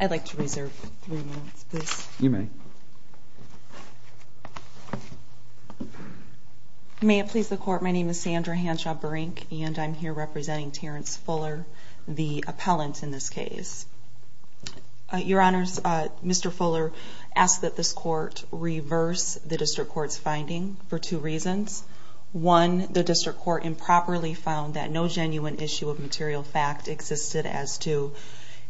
I'd like to reserve three minutes, please. You may. May it please the court, my name is Sandra Hanshaw-Berink, and I'm here representing Terrance Fuller, the appellant in this case. Your honors, Mr. Fuller asked that this court reverse the district court's finding for two reasons. One, the district court improperly found that no genuine issue of material fact existed as to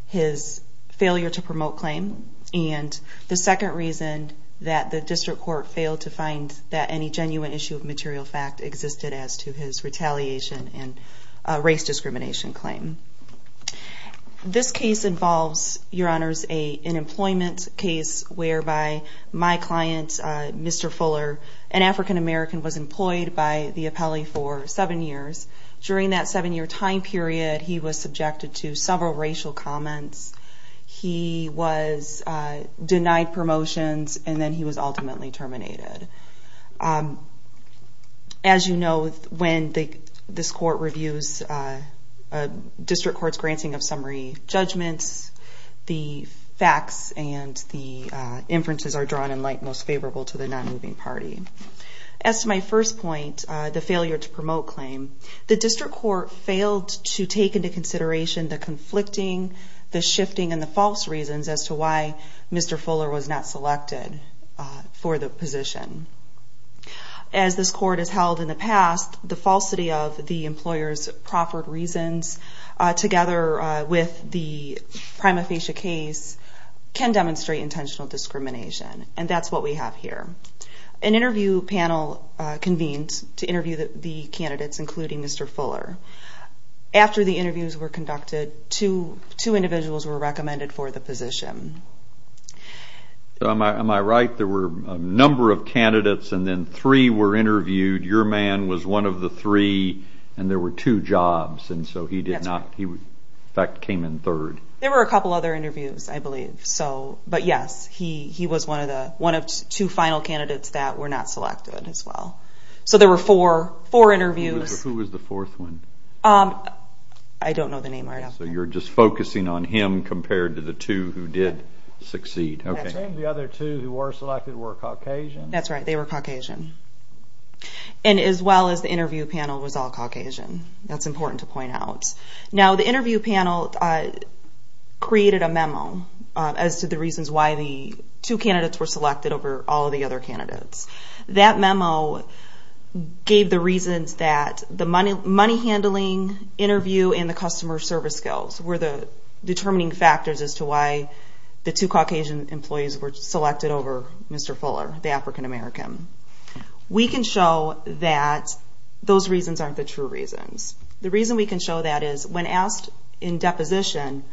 his failure to promote claim. And the second reason that the district court failed to find that any genuine issue of material fact existed as to his retaliation and race discrimination claim. This case involves, your honors, an employment case whereby my client, Mr. Fuller, an African-American, was employed by the appellee for seven years. During that seven-year time period, he was subjected to several racial comments. He was denied promotions, and then he was ultimately terminated. As you know, when this court reviews a district court's granting of summary judgments, the facts and the inferences are drawn in light most favorable to the non-moving party. As to my first point, the failure to promote claim, the district court failed to take into consideration the conflicting, the shifting, and the false reasons as to why for the position. As this court has held in the past, the falsity of the employer's proffered reasons, together with the prima facie case, can demonstrate intentional discrimination. And that's what we have here. An interview panel convened to interview the candidates, including Mr. Fuller. After the interviews were conducted, two individuals were recommended for the position. So am I right? There were a number of candidates, and then three were interviewed. Your man was one of the three, and there were two jobs. And so he did not, in fact, came in third. There were a couple other interviews, I believe. But yes, he was one of two final candidates that were not selected as well. So there were four interviews. Who was the fourth one? I don't know the name right off the bat. So you're just focusing on him compared to the two who did succeed. And the other two who were selected were Caucasian? That's right, they were Caucasian. And as well as the interview panel was all Caucasian. That's important to point out. Now, the interview panel created a memo as to the reasons why the two candidates were selected over all of the other candidates. That memo gave the reasons that the money handling, interview, and the customer service skills were the determining factors as to why the two Caucasian employees were selected over Mr. Fuller, the African-American. We can show that those reasons aren't the true reasons. The reason we can show that is when asked in deposition,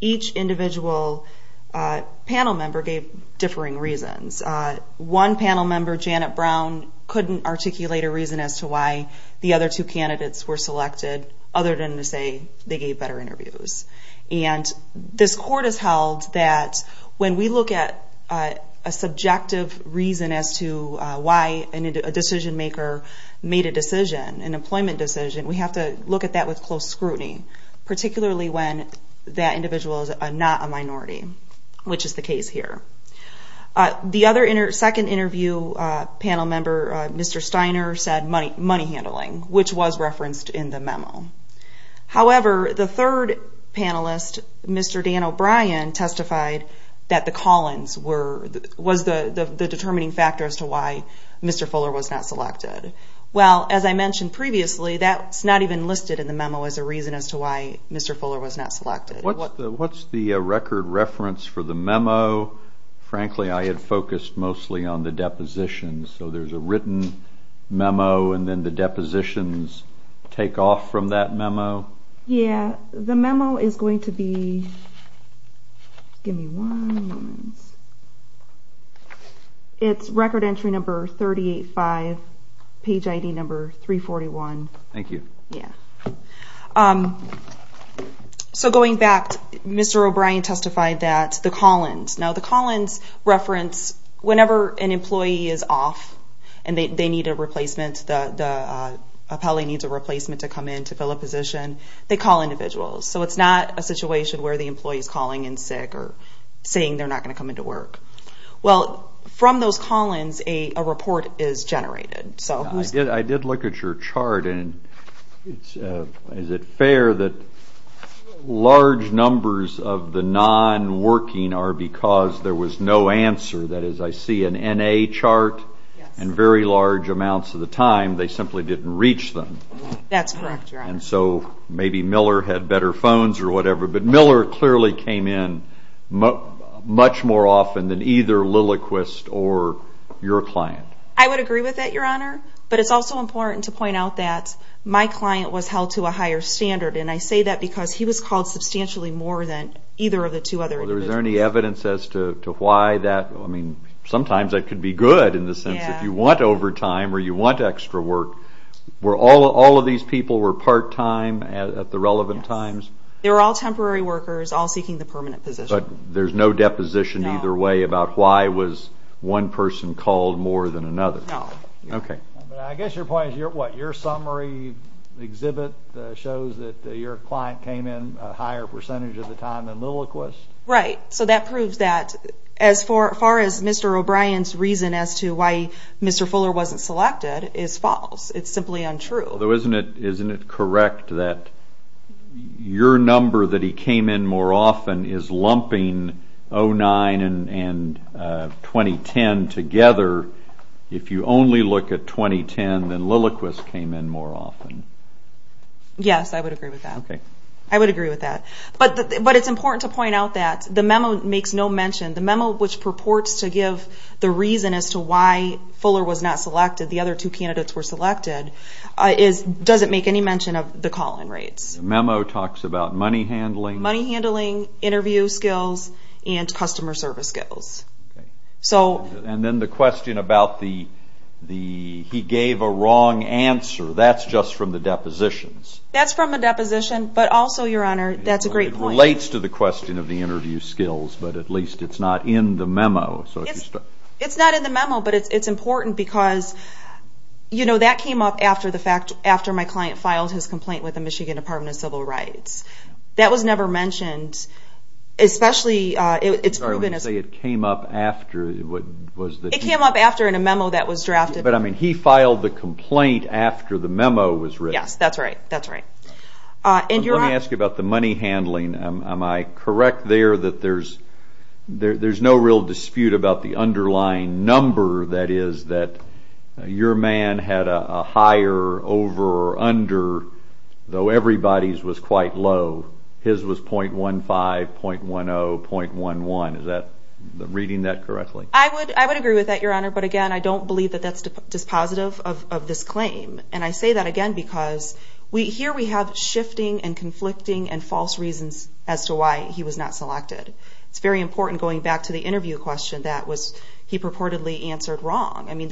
each individual panel member gave differing reasons. One panel member, Janet Brown, couldn't articulate a reason as to why the other two candidates were selected, other than to say they gave better interviews. And this court has held that when we look at a subjective reason as to why a decision-maker made a decision, an employment decision, we have to look at that with close scrutiny, particularly when that individual is not a minority, which is the case here. The other second interview panel member, Mr. Steiner, said money handling, which was referenced in the memo. However, the third panelist, Mr. Dan O'Brien, testified that the Collins were, was the determining factor as to why Mr. Fuller was not selected. Well, as I mentioned previously, that's not even listed in the memo as a reason as to why Mr. Fuller was not selected. What's the record reference for the memo? Frankly, I had focused mostly on the depositions. So there's a written memo, and then the depositions take off from that memo? Yeah, the memo is going to be, give me one moment. It's record entry number 38-5, page ID number 341. Thank you. Yeah. So going back, Mr. O'Brien testified that the Collins, now the Collins reference, whenever an employee is off and they need a replacement, the appellee needs a replacement to come in to fill a position, they call individuals. So it's not a situation where the employee is calling in sick or saying they're not going to come into work. Well, from those Collins, a report is generated. So who's... I did look at your chart, and is it fair that large numbers of the non-working are because there was no answer? That is, I see an NA chart, and very large amounts of the time they simply didn't reach them. That's correct, Your Honor. And so maybe Miller had better phones or whatever. But Miller clearly came in much more often than either Lilliquist or your client. I would agree with that, Your Honor. But it's also important to point out that my client was held to a higher standard. And I say that because he was called substantially more than either of the two other individuals. Well, is there any evidence as to why that, I mean, sometimes that could be good in the sense if you want overtime or you want extra work, were all of these people were part-time at the relevant times? They were all temporary workers, all seeking the permanent position. But there's no deposition either way about why was one person called more than another? No. Okay. But I guess your point is, what, your summary exhibit shows that your client came in a higher percentage of the time than Lilliquist? Right. So that proves that. As far as Mr. O'Brien's reason as to why Mr. Fuller wasn't selected is false. It's simply untrue. Though isn't it correct that your number that he came in more often is lumping 09 and 2010 together? If you only look at 2010, then Lilliquist came in more often. Yes, I would agree with that. Okay. I would agree with that. But it's important to point out that the memo makes no mention. The memo which purports to give the reason as to why Fuller was not selected, the other two candidates were selected, doesn't make any mention of the call-in rates. The memo talks about money handling? Money handling, interview skills, and customer service skills. Okay. And then the question about the, he gave a wrong answer. That's just from the depositions. That's from a deposition. But also, Your Honor, that's a great point. It relates to the question of the interview skills, but at least it's not in the memo. It's not in the memo, but it's important because, you know, that came up after the fact, after my client filed his complaint with the Michigan Department of Civil Rights. That was never mentioned, especially, it's proven as... I'm sorry, when you say it came up after, what was the... It came up after in a memo that was drafted. But I mean, he filed the complaint after the memo was written. Yes, that's right. That's right. Let me ask you about the money handling. Am I correct there that there's no real dispute about the underlying number that is that your man had a higher, over, or under, though everybody's was quite low. His was .15, .10, .11. Is that, reading that correctly? I would agree with that, Your Honor, but again, I don't believe that that's dispositive of this claim. And I say that again because here we have shifting and conflicting and false reasons as to why he was not selected. It's very important going back to the interview question that was he purportedly answered wrong. I mean,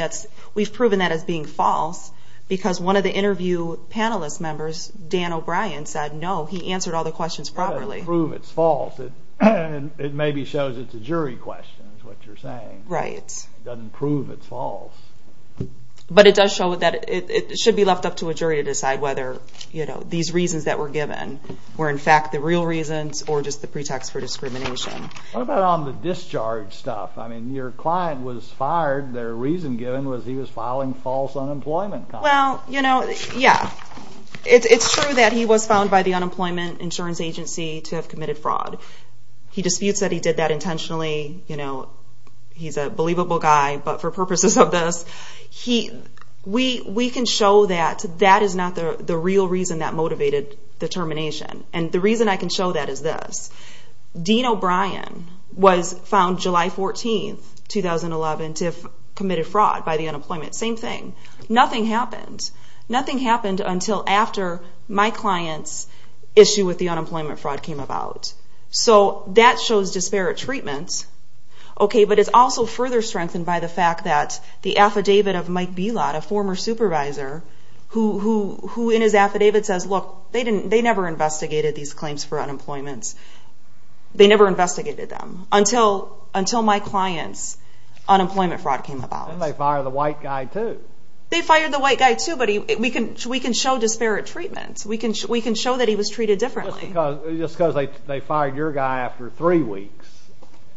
we've proven that as being false because one of the interview panelist members, Dan O'Brien, said, no, he answered all the questions properly. It doesn't prove it's false. It maybe shows it's a jury question is what you're saying. Right. It doesn't prove it's false. But it does show that it should be left up to a jury to decide whether these reasons that were given were in fact the real reasons or just the pretext for discrimination. What about on the discharge stuff? I mean, your client was fired. Their reason given was he was filing false unemployment. Well, you know, yeah. It's true that he was found by the Unemployment Insurance Agency to have committed fraud. He disputes that he did that intentionally. You know, he's a believable guy, but for purposes of this, we can show that that is not the real reason that motivated the termination. And the reason I can show that is this. Dean O'Brien was found July 14, 2011, to have committed fraud by the unemployment. Same thing. Nothing happened. Nothing happened until after my client's issue with the unemployment fraud came about. So that shows disparate treatment, okay, but it's also further strengthened by the fact that the affidavit of Mike Belot, a former supervisor, who in his affidavit says, look, they never investigated these claims for unemployment. They never investigated them until my client's unemployment fraud came about. And they fired the white guy, too. They fired the white guy, too, but we can show disparate treatment. We can show that he was treated differently. Just because they fired your guy after three weeks,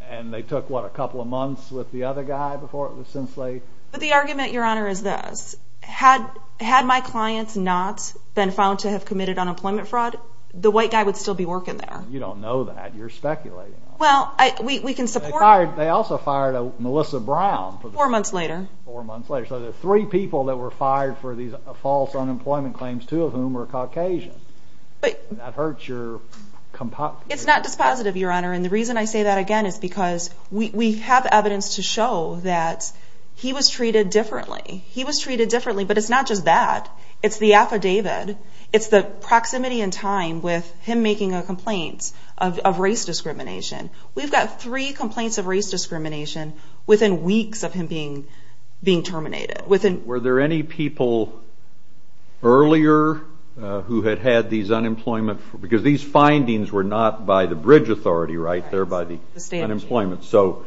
and they took, what, a couple of months with the other guy before it was since they? But the argument, Your Honor, is this. Had my clients not been found to have committed unemployment fraud, the white guy would still be working there. You don't know that. You're speculating on it. Well, we can support. They also fired a Melissa Brown. Four months later. Four months later. So there were three people that were fired for these false unemployment claims, two of whom were Caucasian. But. And that hurts your. It's not dispositive, Your Honor, and the reason I say that, again, is because we have evidence to show that he was treated differently. He was treated differently, but it's not just that. It's the affidavit. It's the proximity in time with him making a complaint of race discrimination. We've got three complaints of race discrimination within weeks of him being terminated. Were there any people earlier who had had these unemployment, because these findings were not by the bridge authority, right? They're by the state of employment. So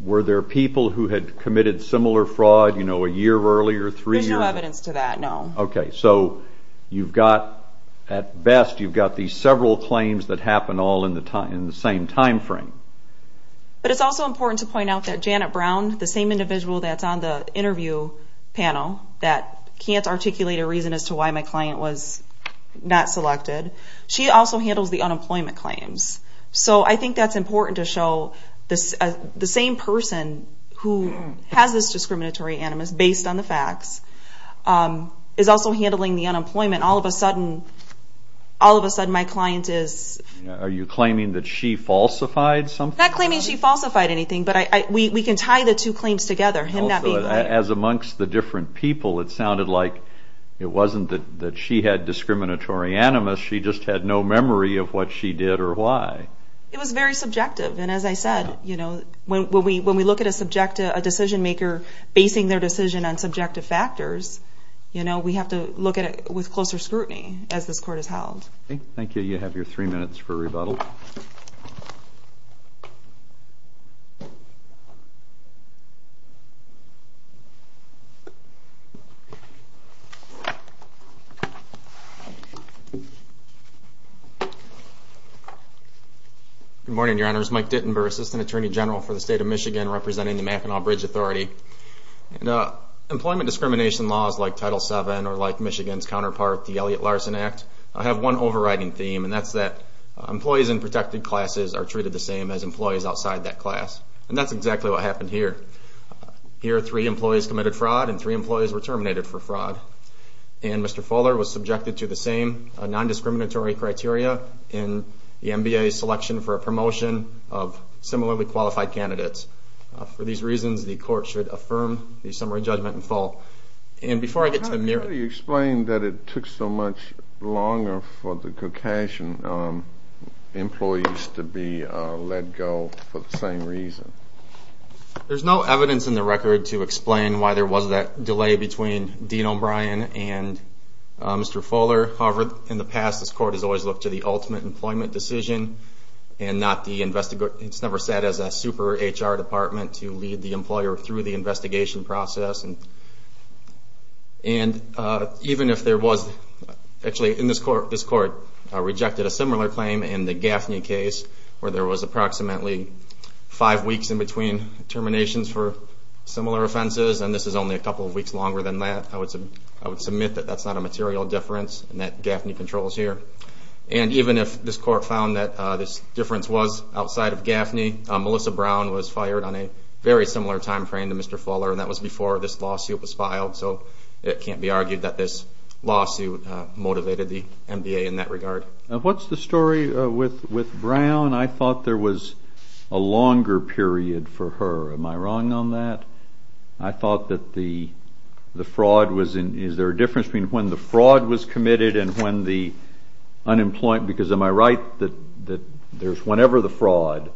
were there people who had committed similar fraud, you know, a year earlier, three years? There's no evidence to that, no. Okay, so you've got, at best, you've got these several claims that happened all in the same timeframe. But it's also important to point out that Janet Brown, the same individual that's on the interview panel that can't articulate a reason as to why my client was not selected, she also handles the unemployment claims. So I think that's important to show the same person who has this discriminatory animus based on the facts is also handling the unemployment. All of a sudden, all of a sudden, my client is... Are you claiming that she falsified something? Not claiming she falsified anything, but we can tie the two claims together, him not being claimed. As amongst the different people, it sounded like it wasn't that she had discriminatory animus, she just had no memory of what she did or why. It was very subjective. And as I said, you know, when we look at a decision maker basing their decision on subjective factors, you know, we have to look at it with closer scrutiny as this court is held. Thank you, you have your three minutes for rebuttal. Good morning, your honors. Mike Dittenberg, Assistant Attorney General for the State of Michigan representing the Mackinac Bridge Authority. Employment discrimination laws like Title VII or like Michigan's counterpart, the Elliott-Larsen Act, have one overriding theme, and that's that employees in protected classes are treated the same as employees outside that class. And that's exactly what happened here. Here, three employees committed fraud And Mr. Fuller was subjected to the same non-discriminatory animus or discriminatory criteria in the MBA selection for a promotion of similarly qualified candidates. For these reasons, the court should affirm the summary judgment in full. And before I get to Amir- How do you explain that it took so much longer for the Caucasian employees to be let go for the same reason? There's no evidence in the record to explain why there was that delay between Dean O'Brien and Mr. Fuller. However, in the past, this court has always looked to the ultimate employment decision and it's never sat as a super HR department to lead the employer through the investigation process. And even if there was, actually in this court, this court rejected a similar claim in the Gaffney case where there was approximately five weeks in between terminations for similar offenses. And this is only a couple of weeks longer than that. I would submit that that's not a material difference in that Gaffney controls here. And even if this court found that this difference was outside of Gaffney, Melissa Brown was fired on a very similar timeframe to Mr. Fuller and that was before this lawsuit was filed. So it can't be argued that this lawsuit motivated the MBA in that regard. And what's the story with Brown? I thought there was a longer period for her. Am I wrong on that? I thought that the fraud was in- When the fraud was committed and when the unemployment, because am I right that there's whenever the fraud,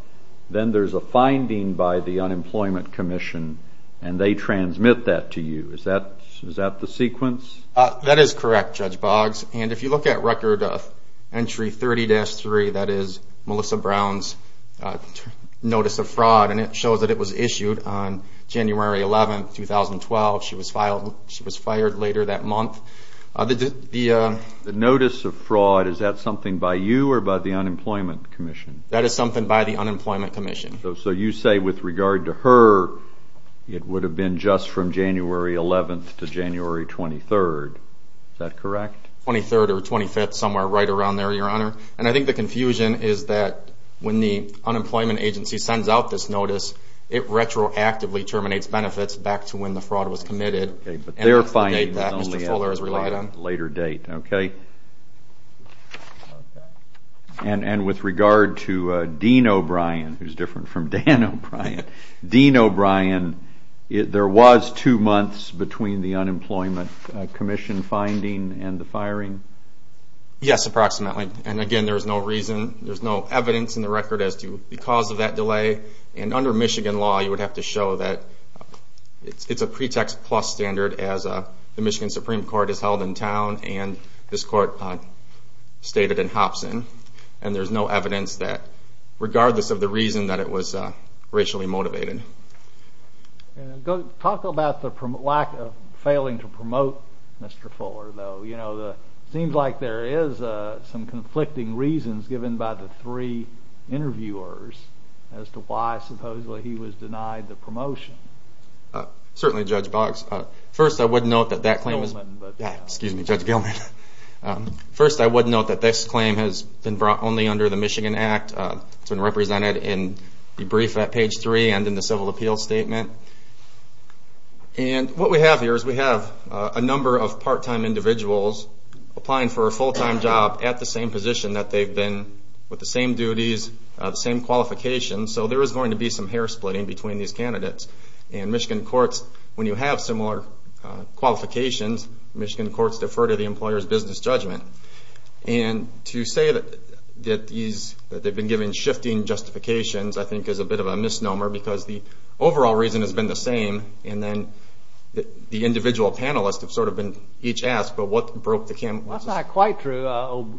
then there's a finding by the Unemployment Commission and they transmit that to you. Is that the sequence? That is correct, Judge Boggs. And if you look at record of entry 30-3, that is Melissa Brown's notice of fraud. And it shows that it was issued on January 11th, 2012. She was fired later that month. The notice of fraud, is that something by you or by the Unemployment Commission? That is something by the Unemployment Commission. So you say with regard to her, it would have been just from January 11th to January 23rd. Is that correct? 23rd or 25th, somewhere right around there, Your Honor. And I think the confusion is that when the unemployment agency sends out this notice, it retroactively terminates benefits back to when the fraud was committed. But they're finding that only at a later date. OK. And with regard to Dean O'Brien, who's different from Dan O'Brien, Dean O'Brien, there was two months between the Unemployment Commission finding and the firing? Yes, approximately. And again, there's no reason, there's no evidence in the record as to the cause of that delay. And under Michigan law, you would have to show that it's a pretext plus standard as the Michigan Supreme Court is held in town and this court stated in Hobson. And there's no evidence that, regardless of the reason that it was racially motivated. Talk about the lack of failing to promote Mr. Fuller, though. Seems like there is some conflicting reasons given by the three interviewers as to why, supposedly, he was denied the promotion. Certainly, Judge Boggs. First, I would note that that claim is. Excuse me, Judge Gilman. First, I would note that this claim has been brought only under the Michigan Act. It's been represented in the brief at page three and in the civil appeals statement. And what we have here is we have a number of part-time individuals applying for a full-time job at the same position that they've been, with the same duties, the same qualifications. So there is going to be some hair splitting between these candidates. And Michigan courts, when you have similar qualifications, Michigan courts defer to the employer's business judgment. And to say that they've been given shifting justifications, I think, is a bit of a misnomer because the overall reason has been the same. And then the individual panelists have sort of been each asked, but what broke the camel's back? That's not quite true.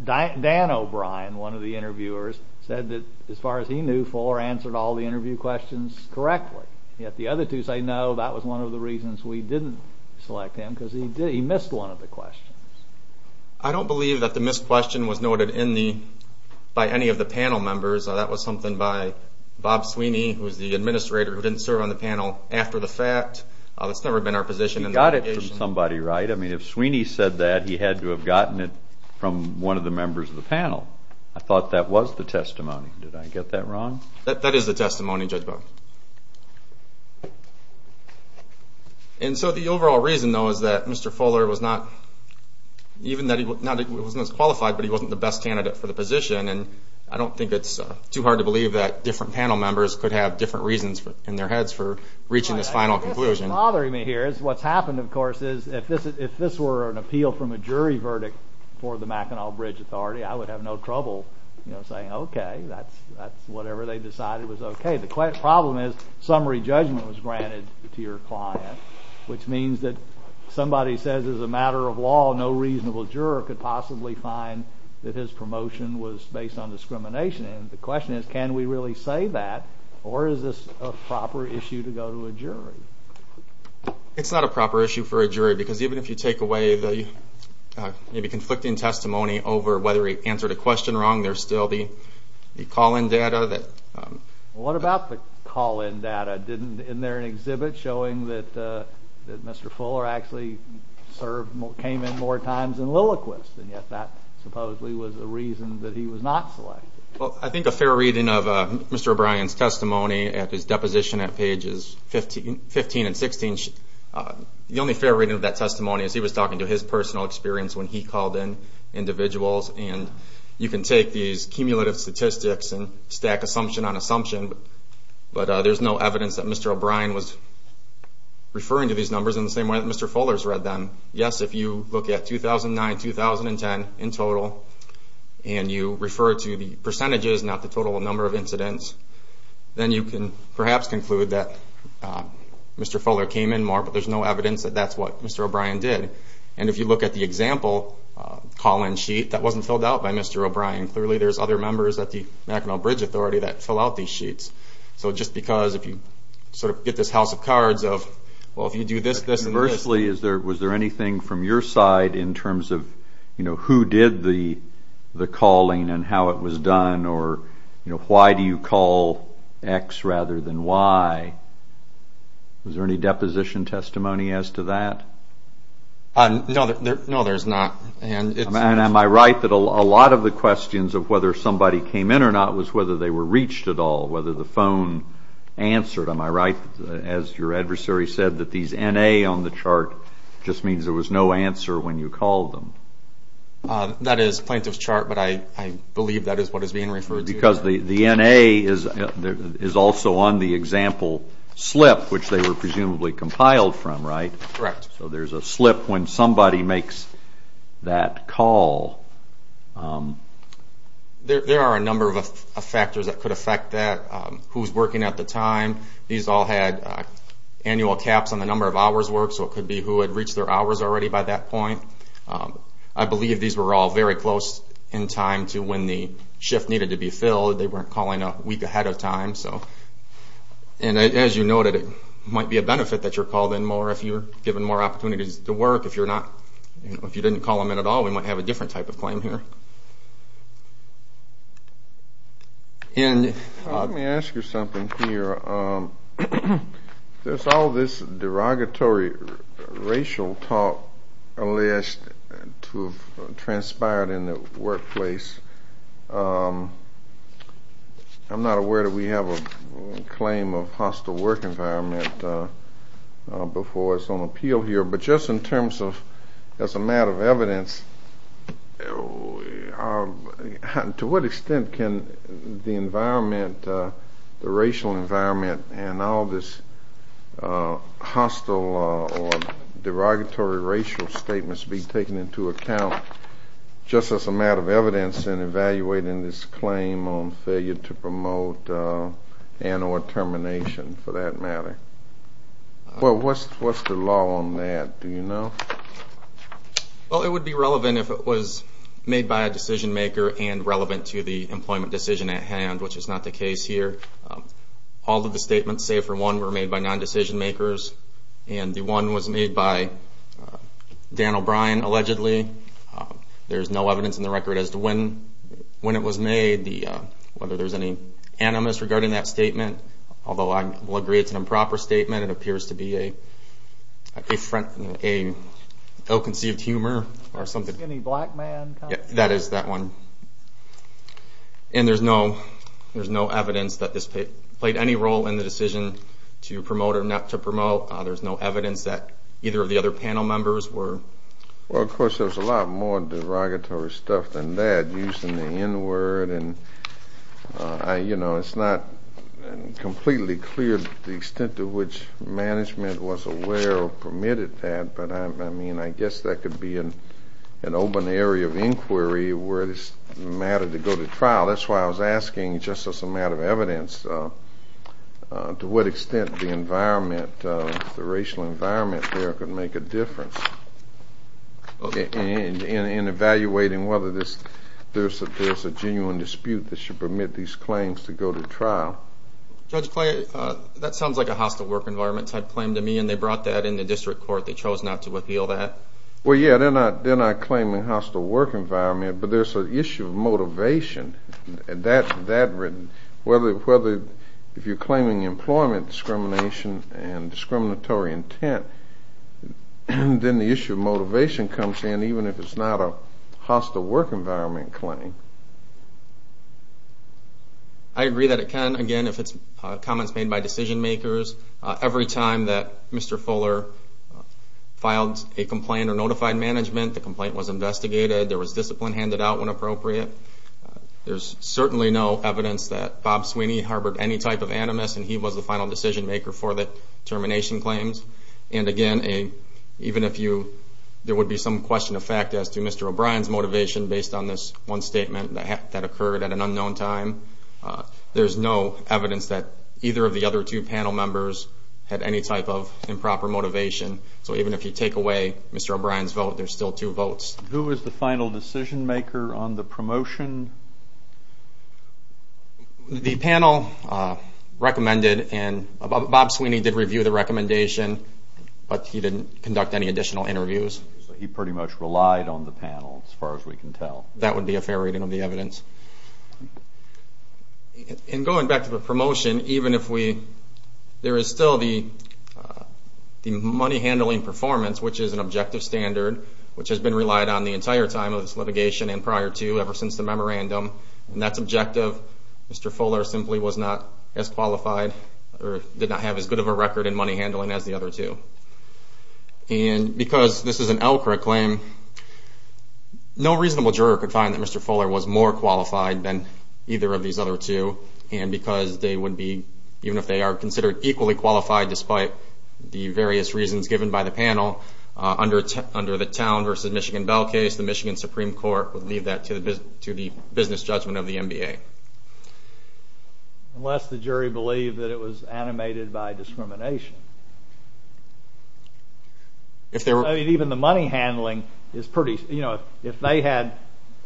Dan O'Brien, one of the interviewers, said that, as far as he knew, Fuller answered all the interview questions correctly. Yet the other two say, no, that was one of the reasons we didn't select him because he missed one of the questions. I don't believe that the missed question was noted by any of the panel members. That was something by Bob Sweeney, who was the administrator, who didn't serve on the panel after the fact. That's never been our position in the litigation. You got it from somebody, right? I mean, if Sweeney said that, he had to have gotten it from one of the members of the panel. I thought that was the testimony. Did I get that wrong? That is the testimony, Judge Bowman. And so the overall reason, though, is that Mr. Fuller was not even that he was not as qualified, but he wasn't the best candidate for the position. And I don't think it's too hard to believe that different panel members could have different reasons in their heads for reaching this final conclusion. What's bothering me here is what's happened, of course, is if this were an appeal from a jury verdict for the Mackinac Bridge Authority, I would have no trouble saying, OK, that's whatever they decided was OK. The problem is summary judgment was granted to your client, which means that somebody says, as a matter of law, no reasonable juror could possibly find that his promotion was based on discrimination. The question is, can we really say that, or is this a proper issue to go to a jury? It's not a proper issue for a jury, because even if you take away the conflicting testimony over whether he answered a question wrong, there's still the call-in data. What about the call-in data? Isn't there an exhibit showing that Mr. Fuller actually came in more times than Lilliquist, and yet that supposedly was the reason that he was not selected? I think a fair reading of Mr. O'Brien's testimony at his deposition at pages 15 and 16, the only fair reading of that testimony is he was talking to his personal experience when he called in individuals. And you can take these cumulative statistics and stack assumption on assumption, but there's no evidence that Mr. O'Brien was referring to these numbers in the same way that Mr. Fuller's read them. Yes, if you look at 2009, 2010 in total, and you refer to the percentages, not the total number of incidents, then you can perhaps conclude that Mr. Fuller came in more, but there's no evidence that that's what Mr. O'Brien did. And if you look at the example call-in sheet, that wasn't filled out by Mr. O'Brien. Clearly there's other members at the Mackinac Bridge Authority that fill out these sheets. So just because if you sort of get this house of cards of, well, if you do this, this, and this. Was there anything from your side in terms of who did the calling and how it was done, or why do you call X rather than Y? Was there any deposition testimony as to that? No, there's not. And it's- Am I right that a lot of the questions of whether somebody came in or not was whether they were reached at all, whether the phone answered? Am I right, as your adversary said, that these NA on the chart just means there was no answer when you called them? That is plaintiff's chart, but I believe that is what is being referred to. Because the NA is also on the example slip, which they were presumably compiled from, right? Correct. So there's a slip when somebody makes that call. There are a number of factors that could affect that. Who's working at the time. These all had annual caps on the number of hours worked, so it could be who had reached their hours already by that point. I believe these were all very close in time to when the shift needed to be filled. They weren't calling a week ahead of time. And as you noted, it might be a benefit that you're called in more if you're given more opportunities to work. If you didn't call them in at all, we might have a different type of claim here. And- Let me ask you something here. There's all this derogatory racial talk alleged to have transpired in the workplace. I'm not aware that we have a claim of hostile work environment before it's on appeal here. But just in terms of as a matter of evidence, to what extent can the environment, the racial environment, and all this hostile or derogatory racial statements be taken into account just as a matter of evidence in evaluating this claim on failure to promote and or termination, for that matter? Well, what's the law on that? Do you know? Well, it would be relevant if it was made by a decision maker and relevant to the employment decision at hand, which is not the case here. All of the statements save for one were made by non-decision makers. And the one was made by Dan O'Brien, allegedly. There's no evidence in the record as to when it was made, whether there's any animus regarding that statement. Although I will agree it's an improper statement. It appears to be a ill-conceived humor or something. Skinny black man kind of thing? That is that one. And there's no evidence that this promote or not to promote. There's no evidence that either of the other panel members were. Well, of course, there's a lot more derogatory stuff than that used in the N-word. And it's not completely clear the extent to which management was aware or permitted that. But I mean, I guess that could be an open area of inquiry where it's a matter to go to trial. That's why I was asking just as a matter of evidence to what extent the environment, the racial environment there, could make a difference in evaluating whether there's a genuine dispute that should permit these claims to go to trial. Judge Clay, that sounds like a hostile work environment type claim to me. And they brought that in the district court. They chose not to appeal that. Well, yeah, they're not claiming hostile work environment. But there's an issue of motivation. And that, whether if you're claiming employment discrimination and discriminatory intent, then the issue of motivation comes in, even if it's not a hostile work environment claim. I agree that it can, again, if it's comments made by decision makers. Every time that Mr. Fuller filed a complaint or notified management, the complaint was investigated, there was discipline handed out when appropriate. There's certainly no evidence that Bob Sweeney harbored any type of animus. And he was the final decision maker for the termination claims. And again, even if you, there would be some question of fact as to Mr. O'Brien's motivation based on this one statement that occurred at an unknown time, there's no evidence that either of the other two panel members had any type of improper motivation. So even if you take away Mr. O'Brien's vote, there's still two votes. Who was the final decision maker on the promotion? The panel recommended, and Bob Sweeney did review the recommendation, but he didn't conduct any additional interviews. He pretty much relied on the panel, as far as we can tell. That would be a fair reading of the evidence. In going back to the promotion, even if we, there is still the money handling performance, which is an objective standard, which has been relied on the entire time of this litigation and prior to, ever since the memorandum. And that's objective. Mr. Fuller simply was not as qualified, or did not have as good of a record in money handling as the other two. And because this is an Elkrick claim, no reasonable juror could find that Mr. Fuller was more qualified than either of these other two. And because they would be, even if they are considered equally qualified, despite the various reasons given by the panel, under the Town v. Michigan Bell case, the Michigan Supreme Court would leave that to the business judgment of the NBA. Unless the jury believed that it was animated by discrimination. If they were. Even the money handling is pretty, if they had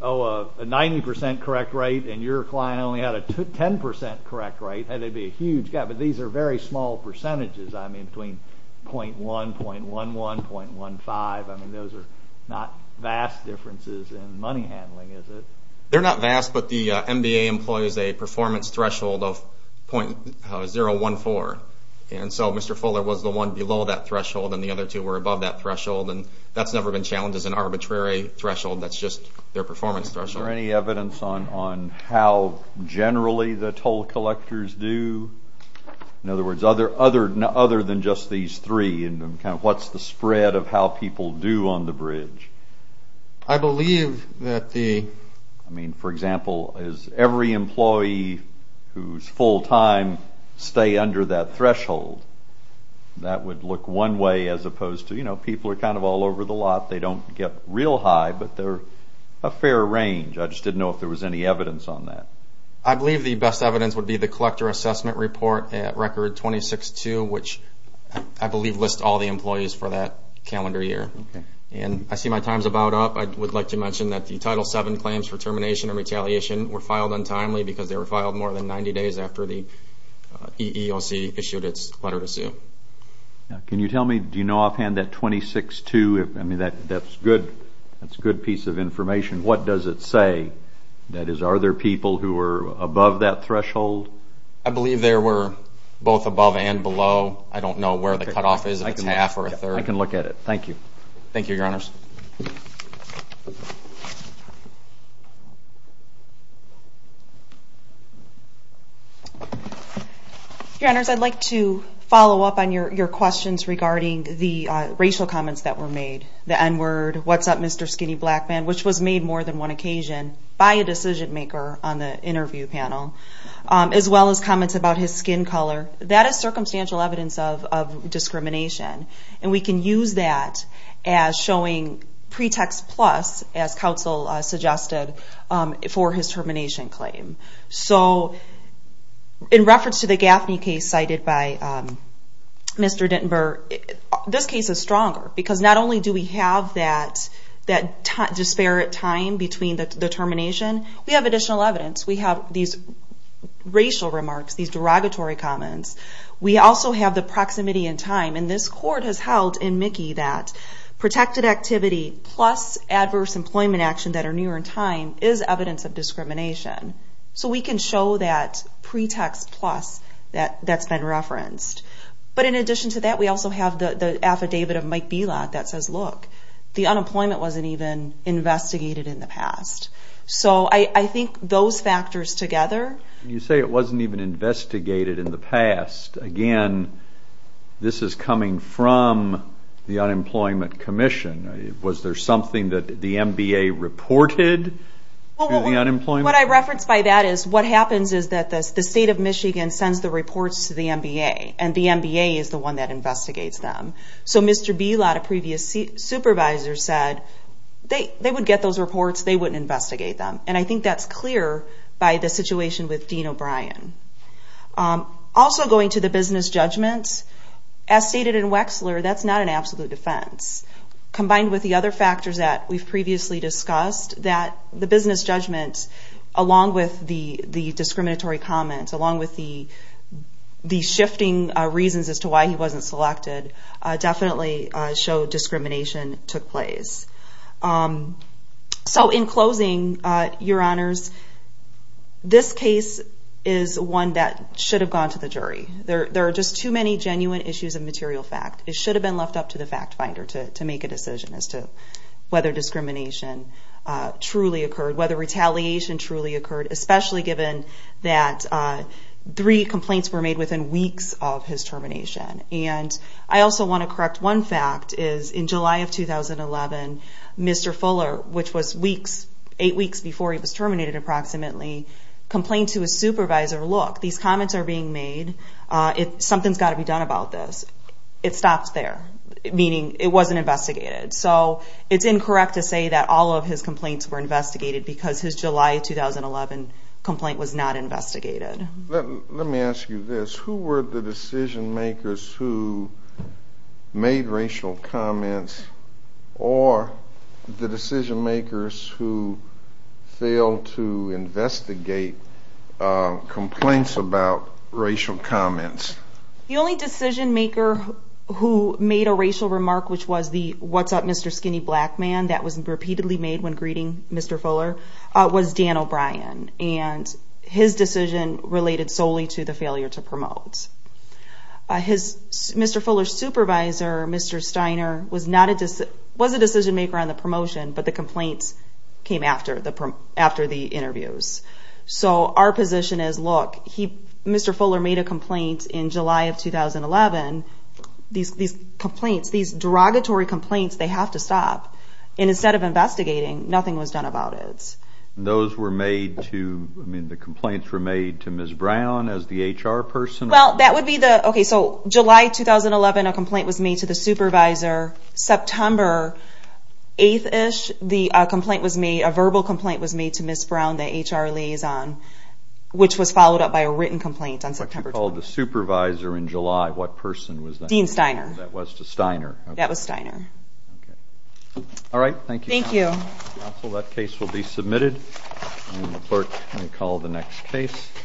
a 90% correct rate, and your client only had a 10% correct rate, they'd be a huge gap. But these are very small percentages, between 0.1, 0.11, 0.15, those are not vast differences in money handling, is it? They're not vast, but the NBA employs a performance threshold of 0.014. And so Mr. Fuller was the one below that threshold, and the other two were above that threshold. That's never been challenged as an arbitrary threshold, that's just their performance threshold. Is there any evidence on how generally the toll collectors do, in other words, other than just these three, and what's the spread of how people do on the bridge? I believe that the. I mean, for example, is every employee who's full time stay under that threshold? That would look one way, as opposed to, you know, people are kind of all over the lot, they don't get real high, but they're a fair range. I just didn't know if there was any evidence on that. I believe the best evidence would be the collector assessment report at record 26.2, which I believe lists all the employees for that calendar year. And I see my time's about up. I would like to mention that the Title VII claims for termination or retaliation were filed untimely, because they were filed more than 90 days after the EEOC issued its letter to sue. Can you tell me, do you know offhand that 26.2, I mean, that's good, that's a good piece of information. What does it say? That is, are there people who were above that threshold? I believe there were both above and below. I don't know where the cutoff is, if it's half or a third. I can look at it. Thank you. Thank you, your honors. Your honors, I'd like to follow up on your questions regarding the racial comments that were made, the N-word, what's up, Mr. Skinny Black Man, which was made more than one occasion by a decision maker on the interview panel, as well as comments about his skin color. That is circumstantial evidence of discrimination. And we can use that as showing pretext plus, as counsel suggested, for his termination claim. So in reference to the Gaffney case cited by Mr. Dittenberg, this case is stronger. Because not only do we have that disparate time between the termination, we have additional evidence. We have these racial remarks, these derogatory comments. We also have the proximity in time. And this court has held in Mickey that protected activity plus adverse employment action that are near in time is evidence of discrimination. So we can show that pretext plus that's been referenced. But in addition to that, we also have the affidavit of Mike Belot that says, look, the unemployment wasn't even investigated in the past. So I think those factors together. You say it wasn't even investigated in the past. Again, this is coming from the Unemployment Commission. Was there something that the MBA reported to the unemployment? What I reference by that is what happens is that the state of Michigan sends the reports to the MBA. And the MBA is the one that investigates them. So Mr. Belot, a previous supervisor, said they would get those reports. They wouldn't investigate them. And I think that's clear by the situation with Dean O'Brien. Also going to the business judgments, as stated in Wexler, that's not an absolute defense. Combined with the other factors that we've previously discussed, that the business judgments, along with the discriminatory comments, along with the shifting reasons as to why he wasn't selected, definitely showed discrimination took place. So in closing, your honors, this case is one that should have gone to the jury. There are just too many genuine issues of material fact. It should have been left up to the fact finder to make a decision as to whether discrimination truly occurred, whether retaliation truly occurred, especially given that three complaints were made within weeks of his termination. And I also want to correct one fact, is in July of 2011, Mr. Fuller, which was weeks, eight weeks before he was terminated approximately, complained to his supervisor, look, these comments are being made. Something's got to be done about this. It stopped there, meaning it wasn't investigated. So it's incorrect to say that all of his complaints were investigated because his July 2011 complaint was not investigated. Let me ask you this. Who were the decision makers who made racial comments or the decision makers who failed to investigate complaints about racial comments? The only decision maker who made a racial remark, which was the, what's up Mr. Skinny Black Man, that was repeatedly made when greeting Mr. Fuller, was Dan O'Brien. And his decision related solely to the failure to promote. Mr. Fuller's supervisor, Mr. Steiner, was a decision maker on the promotion, but the complaints came after the interviews. So our position is, look, Mr. Fuller made a complaint in July of 2011. These complaints, these derogatory complaints, they have to stop. And instead of investigating, nothing was done about it. Those were made to, I mean, the complaints were made to Ms. Brown as the HR person? Well, that would be the, okay, so July 2011, a complaint was made to the supervisor. September 8th-ish, the complaint was made, a verbal complaint was made to Ms. Brown, the HR liaison, which was followed up by a written complaint on September 12th. What you called the supervisor in July, what person was that? Dean Steiner. That was to Steiner. That was Steiner. All right, thank you. Thank you. Counsel, that case will be submitted. And the clerk may call the next case.